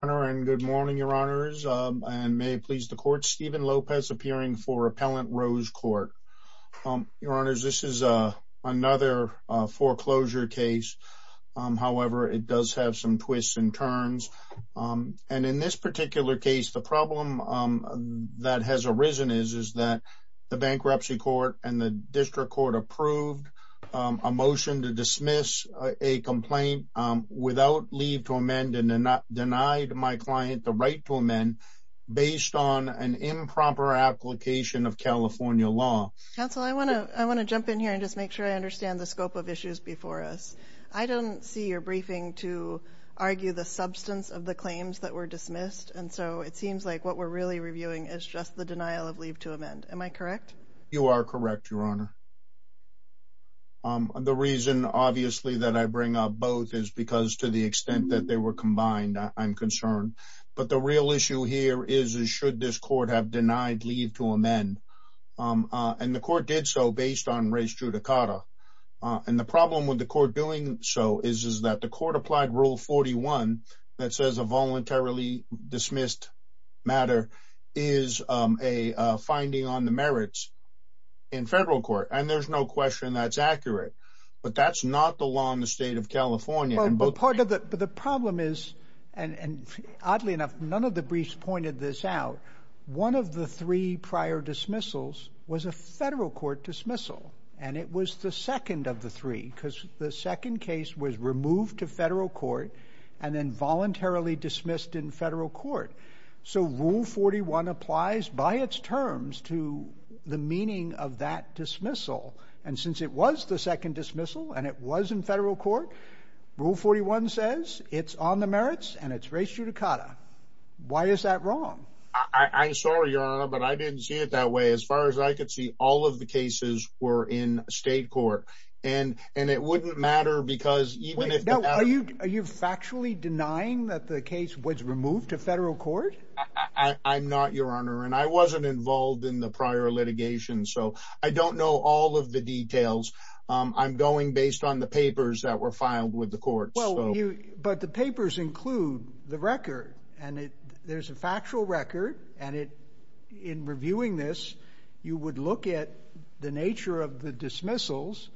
Good morning, Your Honors, and may it please the Court, Stephen Lopez appearing for Appellant Rose Court. Your Honors, this is another foreclosure case. However, it does have some twists and turns. In this particular case, the problem that has arisen is that the Bankruptcy Court and the District Court approved a motion to dismiss a complaint without leave to amend and denied my client the right to amend based on an improper application of California law. Counsel, I want to jump in here and just make sure I understand the scope of issues before us. I don't see your briefing to argue the substance of the claims that were dismissed, and so it seems like what we're really reviewing is just the denial of leave to amend. Am I correct? You are correct, Your Honor. The reason, obviously, that I bring up both is because to the extent that they were combined, I'm concerned. But the real issue here is should this Court have denied leave to amend, and the Court did so based on res judicata. And the problem with the Court doing so is that the Court applied Rule 41 that says a voluntarily dismissed matter is a finding on the merits in federal court, and there's no question that's accurate. But that's not the law in the state of California. But the problem is, and oddly enough, none of the briefs pointed this out, one of the three prior dismissals was a federal court dismissal, and it was the second of the three because the second case was removed to federal court and then voluntarily dismissed in federal court. So Rule 41 applies by its terms to the meaning of that dismissal. And since it was the second dismissal and it was in federal court, Rule 41 says it's on the merits and it's res judicata. Why is that wrong? I'm sorry, Your Honor, but I didn't see it that way. As far as I could see, all of the cases were in state court, and it wouldn't matter because even if the… I'm not, Your Honor, and I wasn't involved in the prior litigation, so I don't know all of the details. I'm going based on the papers that were filed with the courts. But the papers include the record, and there's a factual record, and in reviewing this, you would look at the nature of the dismissals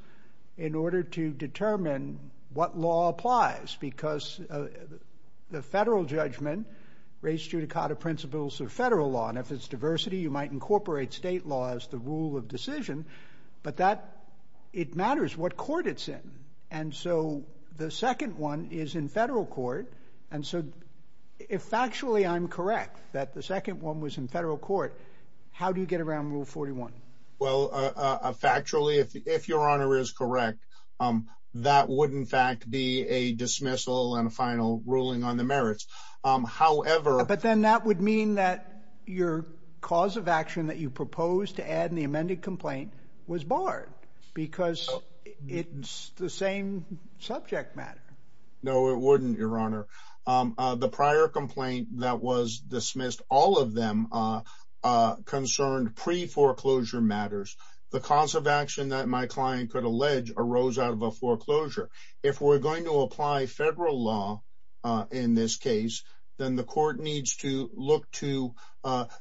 in order to determine what law applies because the federal judgment, res judicata principles of federal law, and if it's diversity, you might incorporate state law as the rule of decision, but it matters what court it's in. And so the second one is in federal court, and so if factually I'm correct that the second one was in federal court, how do you get around Rule 41? Well, factually, if Your Honor is correct, that would, in fact, be a dismissal and a final ruling on the merits. However… But then that would mean that your cause of action that you proposed to add in the amended complaint was barred because it's the same subject matter. No, it wouldn't, Your Honor. The prior complaint that was dismissed, all of them concerned pre-foreclosure matters. The cause of action that my client could allege arose out of a foreclosure. If we're going to apply federal law in this case, then the court needs to look to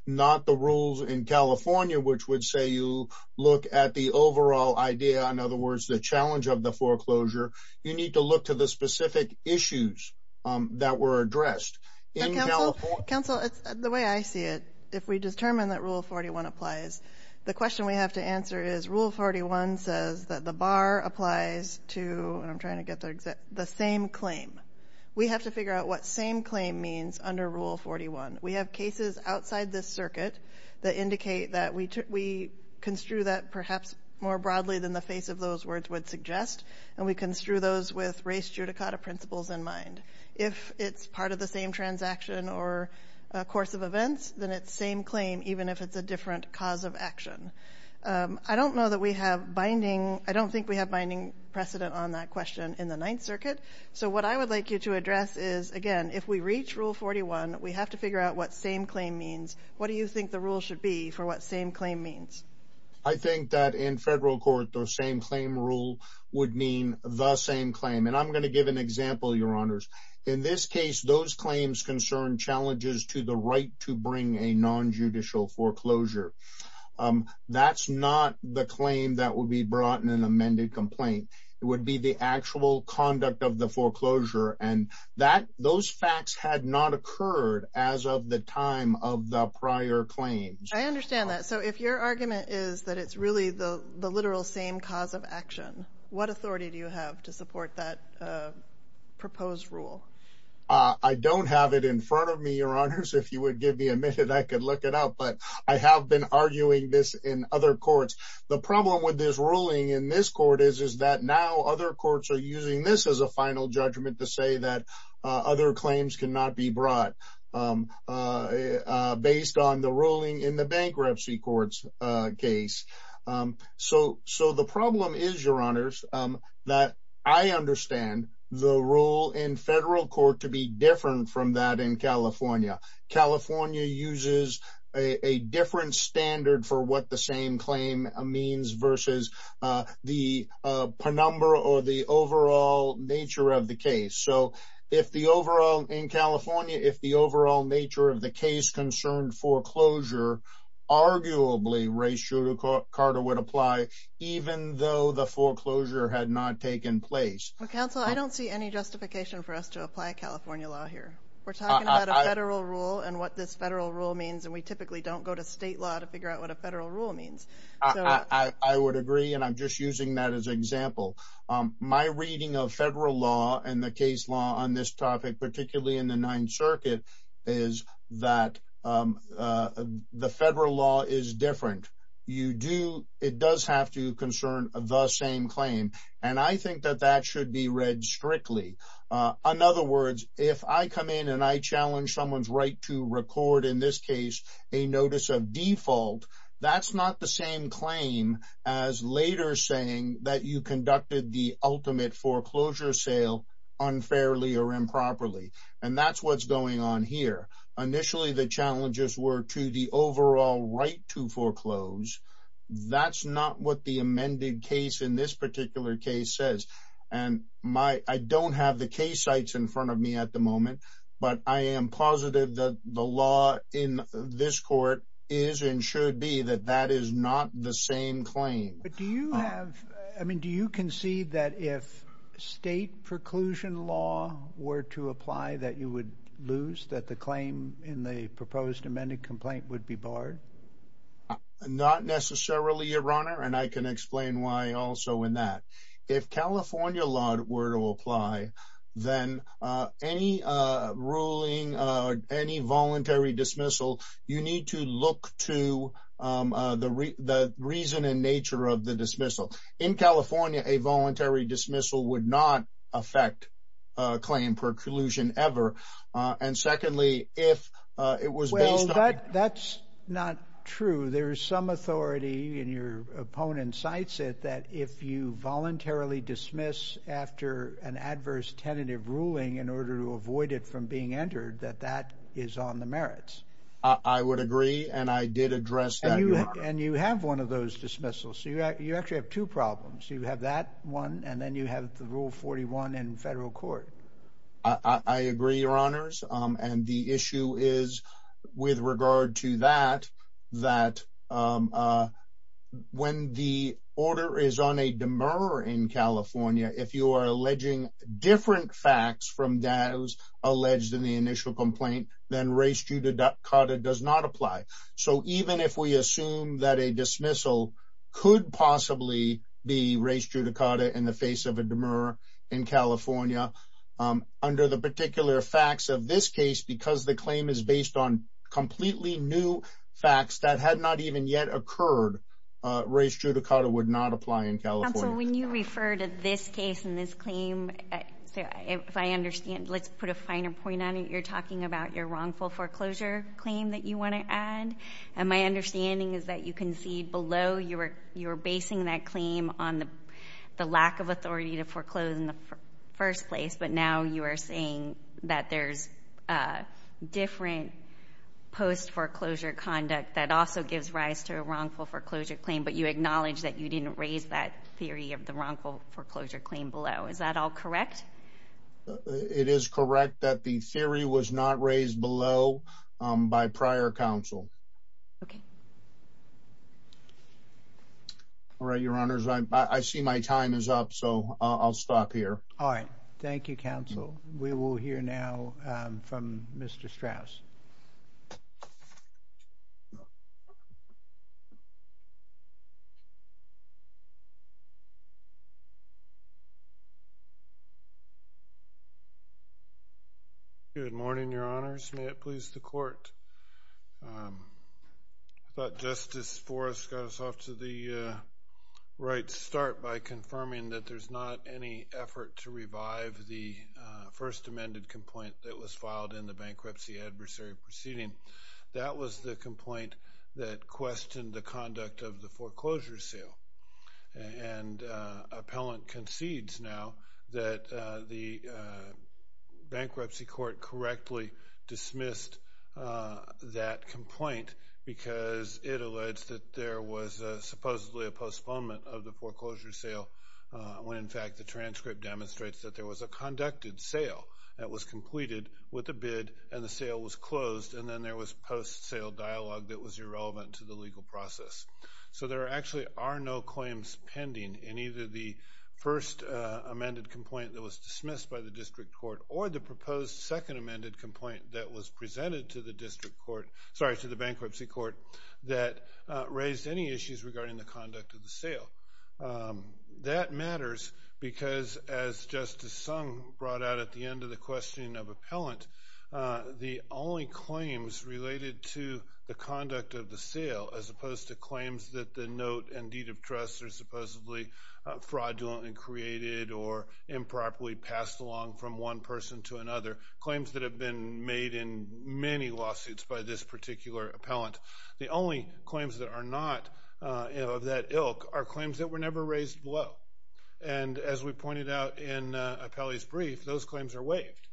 not the rules in California, which would say you look at the overall idea, in other words, the challenge of the foreclosure. You need to look to the specific issues that were addressed in California. Counsel, the way I see it, if we determine that Rule 41 applies, the question we have to answer is Rule 41 says that the bar applies to the same claim. We have to figure out what same claim means under Rule 41. We have cases outside this circuit that indicate that we construe that perhaps more broadly than the face of those words would suggest, and we construe those with race judicata principles in mind. If it's part of the same transaction or course of events, then it's same claim, even if it's a different cause of action. I don't know that we have binding – I don't think we have binding precedent on that question in the Ninth Circuit. So what I would like you to address is, again, if we reach Rule 41, we have to figure out what same claim means. What do you think the rule should be for what same claim means? I think that in federal court, the same claim rule would mean the same claim. And I'm going to give an example, Your Honors. In this case, those claims concern challenges to the right to bring a nonjudicial foreclosure. That's not the claim that would be brought in an amended complaint. It would be the actual conduct of the foreclosure, and that – those facts had not occurred as of the time of the prior claim. I understand that. So if your argument is that it's really the literal same cause of action, what authority do you have to support that proposed rule? I don't have it in front of me, Your Honors. If you would give me a minute, I could look it up. But I have been arguing this in other courts. The problem with this ruling in this court is that now other courts are using this as a final judgment to say that other claims cannot be brought based on the ruling in the bankruptcy court's case. So the problem is, Your Honors, that I understand the rule in federal court to be different from that in California. California uses a different standard for what the same claim means versus the penumbra or the overall nature of the case. So if the overall – in California, if the overall nature of the case concerned foreclosure, arguably, Rae Shooter Carter would apply even though the foreclosure had not taken place. Counsel, I don't see any justification for us to apply California law here. We're talking about a federal rule and what this federal rule means, and we typically don't go to state law to figure out what a federal rule means. I would agree, and I'm just using that as an example. My reading of federal law and the case law on this topic, particularly in the Ninth Circuit, is that the federal law is different. You do – it does have to concern the same claim, and I think that that should be read strictly. In other words, if I come in and I challenge someone's right to record, in this case, a notice of default, that's not the same claim as later saying that you conducted the ultimate foreclosure sale unfairly or improperly, and that's what's going on here. Initially, the challenges were to the overall right to foreclose. That's not what the amended case in this particular case says. I don't have the case sites in front of me at the moment, but I am positive that the law in this court is and should be that that is not the same claim. But do you have – I mean, do you concede that if state preclusion law were to apply that you would lose, that the claim in the proposed amended complaint would be barred? Not necessarily, Your Honor, and I can explain why also in that. If California law were to apply, then any ruling, any voluntary dismissal, you need to look to the reason and nature of the dismissal. In California, a voluntary dismissal would not affect claim preclusion ever, and secondly, if it was based on – That's not true. There is some authority, and your opponent cites it, that if you voluntarily dismiss after an adverse tentative ruling in order to avoid it from being entered, that that is on the merits. I would agree, and I did address that, Your Honor. And you have one of those dismissals, so you actually have two problems. You have that one, and then you have the Rule 41 in federal court. I agree, Your Honors, and the issue is with regard to that, that when the order is on a demur in California, if you are alleging different facts from those alleged in the initial complaint, then res judicata does not apply. So even if we assume that a dismissal could possibly be res judicata in the face of a demur in California, under the particular facts of this case, because the claim is based on completely new facts that had not even yet occurred, res judicata would not apply in California. So when you refer to this case and this claim, if I understand, let's put a finer point on it. You're talking about your wrongful foreclosure claim that you want to add, and my understanding is that you concede below you were basing that claim on the lack of authority to foreclose in the first place, but now you are saying that there's different post-foreclosure conduct that also gives rise to a wrongful foreclosure claim, but you acknowledge that you didn't raise that theory of the wrongful foreclosure claim below. Is that all correct? It is correct that the theory was not raised below by prior counsel. Okay. All right, Your Honors, I see my time is up, so I'll stop here. All right. Thank you, Counsel. We will hear now from Mr. Strauss. Good morning, Your Honors. May it please the Court. I thought Justice Forrest got us off to the right start by confirming that there's not any effort to revive the first amended complaint that was filed in the bankruptcy adversary proceeding. That was the complaint that questioned the conduct of the foreclosure sale, and appellant concedes now that the bankruptcy court correctly dismissed that complaint because it alleged that there was supposedly a postponement of the foreclosure sale, when, in fact, the transcript demonstrates that there was a conducted sale that was completed with a bid, and the sale was closed, and then there was post-sale dialogue that was irrelevant to the legal process. So there actually are no claims pending in either the first amended complaint that was dismissed by the district court or the proposed second amended complaint that was presented to the bankruptcy court that raised any issues regarding the conduct of the sale. That matters because, as Justice Sung brought out at the end of the questioning of appellant, the only claims related to the conduct of the sale, as opposed to claims that the note and deed of trust are supposedly fraudulently created or improperly passed along from one person to another, claims that have been made in many lawsuits by this particular appellant, the only claims that are not of that ilk are claims that were never raised below, and as we pointed out in appellee's brief, those claims are waived,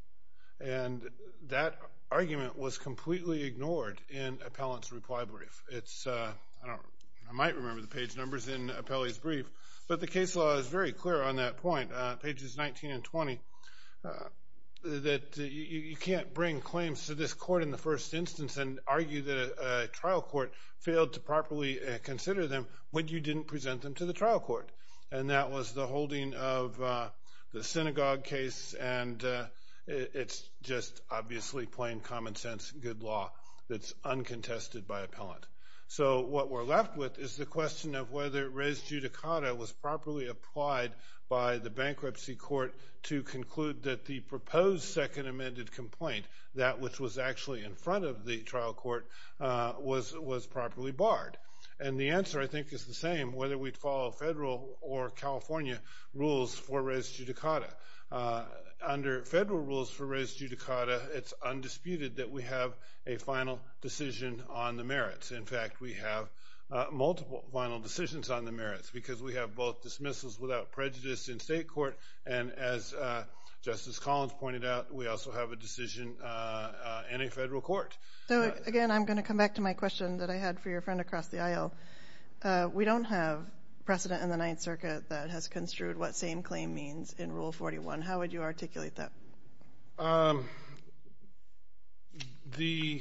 and that argument was completely ignored in appellant's reply brief. I might remember the page numbers in appellee's brief, but the case law is very clear on that point, pages 19 and 20, that you can't bring claims to this court in the first instance and argue that a trial court failed to properly consider them when you didn't present them to the trial court. And that was the holding of the synagogue case, and it's just obviously plain common sense good law that's uncontested by appellant. So what we're left with is the question of whether res judicata was properly applied by the bankruptcy court to conclude that the proposed second amended complaint, that which was actually in front of the trial court, was properly barred. And the answer, I think, is the same, whether we follow federal or California rules for res judicata. Under federal rules for res judicata, it's undisputed that we have a final decision on the merits. In fact, we have multiple final decisions on the merits, because we have both dismissals without prejudice in state court, and as Justice Collins pointed out, we also have a decision in a federal court. So again, I'm going to come back to my question that I had for your friend across the aisle. We don't have precedent in the Ninth Circuit that has construed what same claim means in Rule 41. How would you articulate that? The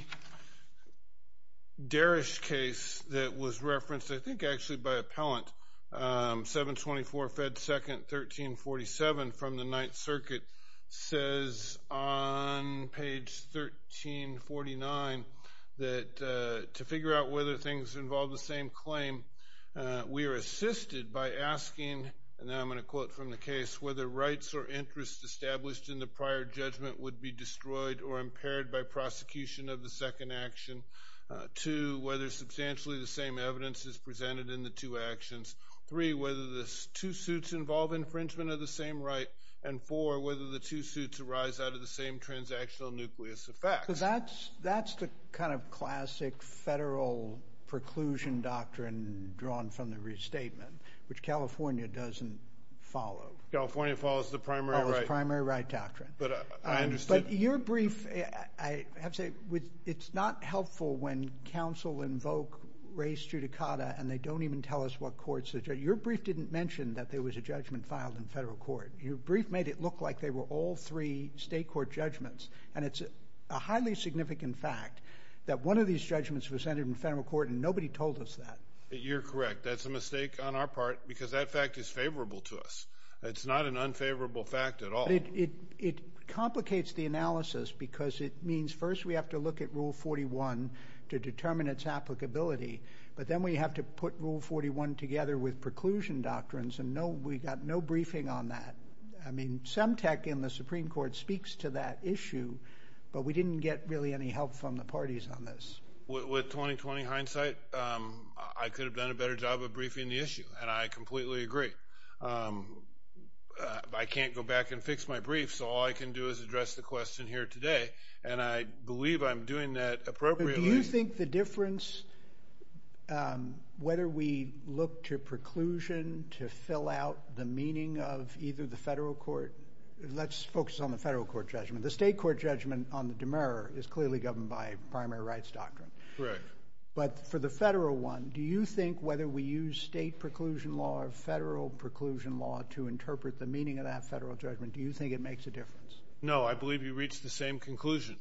Derrish case that was referenced, I think actually by appellant, 724 Fed 2nd, 1347 from the Ninth Circuit, says on page 1349 that to figure out whether things involve the same claim, we are assisted by asking, and I'm going to quote from the case, whether rights or interests established in the prior judgment would be destroyed or impaired by prosecution of the second action. Two, whether substantially the same evidence is presented in the two actions. Three, whether the two suits involve infringement of the same right. And four, whether the two suits arise out of the same transactional nucleus of facts. So that's the kind of classic federal preclusion doctrine drawn from the restatement, which California doesn't follow. California follows the primary right. Follows the primary right doctrine. But I understand. But your brief, I have to say, it's not helpful when counsel invoke res judicata and they don't even tell us what courts to judge. Your brief didn't mention that there was a judgment filed in federal court. Your brief made it look like they were all three state court judgments. And it's a highly significant fact that one of these judgments was entered in federal court and nobody told us that. You're correct. That's a mistake on our part because that fact is favorable to us. It's not an unfavorable fact at all. It complicates the analysis because it means first we have to look at Rule 41 to determine its applicability. But then we have to put Rule 41 together with preclusion doctrines and we got no briefing on that. I mean, some tech in the Supreme Court speaks to that issue, but we didn't get really any help from the parties on this. With 20-20 hindsight, I could have done a better job of briefing the issue, and I completely agree. I can't go back and fix my brief, so all I can do is address the question here today, and I believe I'm doing that appropriately. Do you think the difference whether we look to preclusion to fill out the meaning of either the federal court? Let's focus on the federal court judgment. The state court judgment on the demurrer is clearly governed by primary rights doctrine. Correct. But for the federal one, do you think whether we use state preclusion law or federal preclusion law to interpret the meaning of that federal judgment, do you think it makes a difference? No, I believe you reached the same conclusion.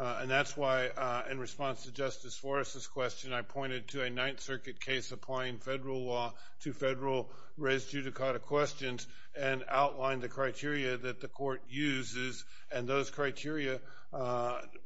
And that's why, in response to Justice Flores' question, I pointed to a Ninth Circuit case applying federal law to federal res judicata questions and outlined the criteria that the court uses, and those criteria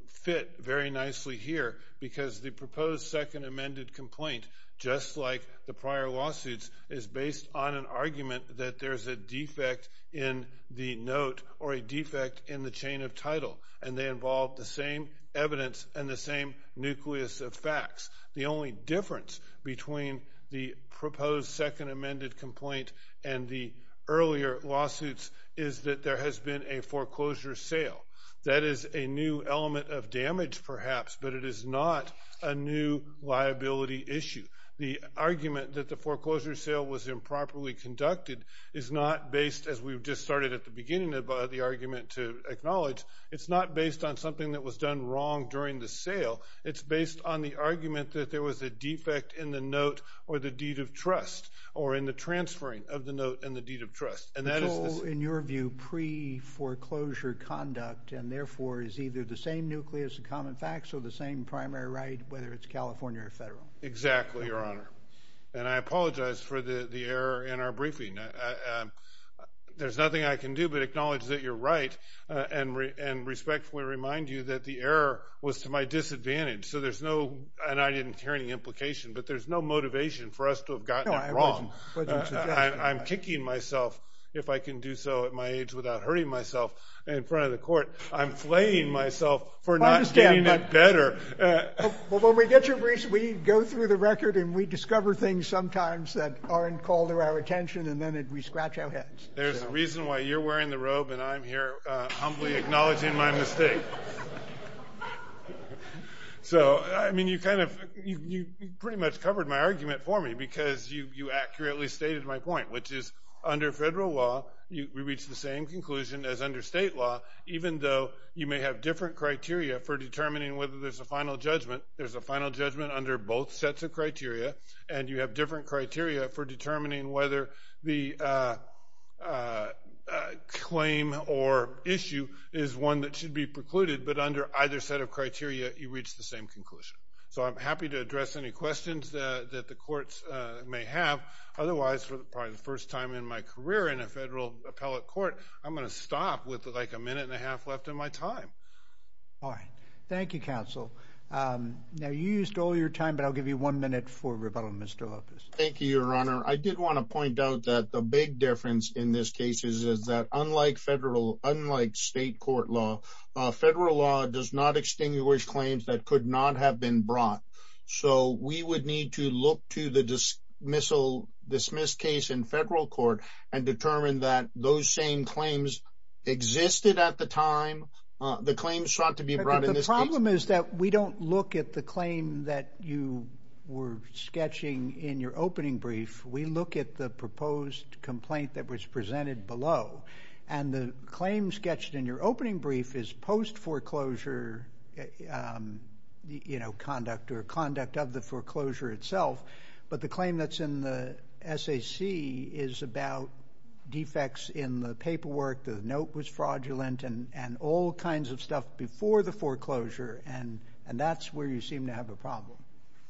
fit very nicely here because the proposed second amended complaint, just like the prior lawsuits, is based on an argument that there's a defect in the note or a defect in the chain of title, and they involve the same evidence and the same nucleus of facts. The only difference between the proposed second amended complaint and the earlier lawsuits is that there has been a foreclosure sale. That is a new element of damage, perhaps, but it is not a new liability issue. The argument that the foreclosure sale was improperly conducted is not based, as we've just started at the beginning of the argument to acknowledge, it's not based on something that was done wrong during the sale. It's based on the argument that there was a defect in the note or the deed of trust or in the transferring of the note and the deed of trust. So, in your view, pre-foreclosure conduct and, therefore, is either the same nucleus of common facts or the same primary right, whether it's California or federal? Exactly, Your Honor, and I apologize for the error in our briefing. There's nothing I can do but acknowledge that you're right and respectfully remind you that the error was to my disadvantage, and I didn't hear any implication, but there's no motivation for us to have gotten it wrong. I'm kicking myself, if I can do so at my age, without hurting myself in front of the court. I'm flaying myself for not getting it better. Well, when we get your briefs, we go through the record and we discover things sometimes that aren't called to our attention, and then we scratch our heads. There's a reason why you're wearing the robe and I'm here humbly acknowledging my mistake. So, I mean, you pretty much covered my argument for me because you accurately stated my point, which is under federal law, we reach the same conclusion as under state law, even though you may have different criteria for determining whether there's a final judgment. There's a final judgment under both sets of criteria, and you have different criteria for determining whether the claim or issue is one that should be precluded, but under either set of criteria, you reach the same conclusion. So I'm happy to address any questions that the courts may have. Otherwise, for the first time in my career in a federal appellate court, I'm going to stop with like a minute and a half left in my time. All right. Thank you, Counsel. Now, you used all your time, but I'll give you one minute for rebuttal, Mr. Lopez. Thank you, Your Honor. I did want to point out that the big difference in this case is that unlike federal, unlike state court law, federal law does not extinguish claims that could not have been brought. So we would need to look to the dismissal, dismissed case in federal court and determine that those same claims existed at the time. The claims sought to be brought in this case. But the problem is that we don't look at the claim that you were sketching in your opening brief. We look at the proposed complaint that was presented below, and the claim sketched in your opening brief is post foreclosure, you know, conduct or conduct of the foreclosure itself. But the claim that's in the SAC is about defects in the paperwork. The note was fraudulent and all kinds of stuff before the foreclosure. And that's where you seem to have a problem.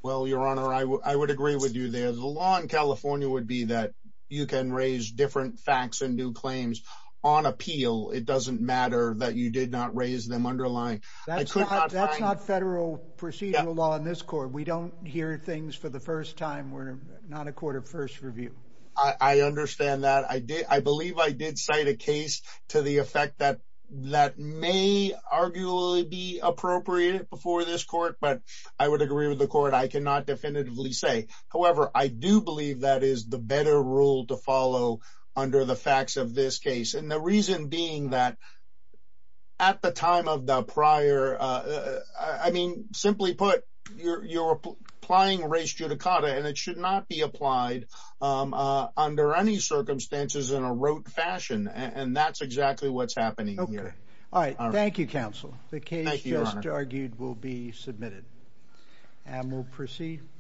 Well, Your Honor, I would agree with you there. The law in California would be that you can raise different facts and do claims on appeal. It doesn't matter that you did not raise them underlying. That's not federal procedural law in this court. We don't hear things for the first time. We're not a court of first review. I understand that. I believe I did cite a case to the effect that that may arguably be appropriate before this court. But I would agree with the court. I cannot definitively say. However, I do believe that is the better rule to follow under the facts of this case. And the reason being that at the time of the prior, I mean, simply put, you're applying race judicata, and it should not be applied under any circumstances in a rote fashion. And that's exactly what's happening here. Okay. All right. Thank you, counsel. The case just argued will be submitted. And we'll proceed.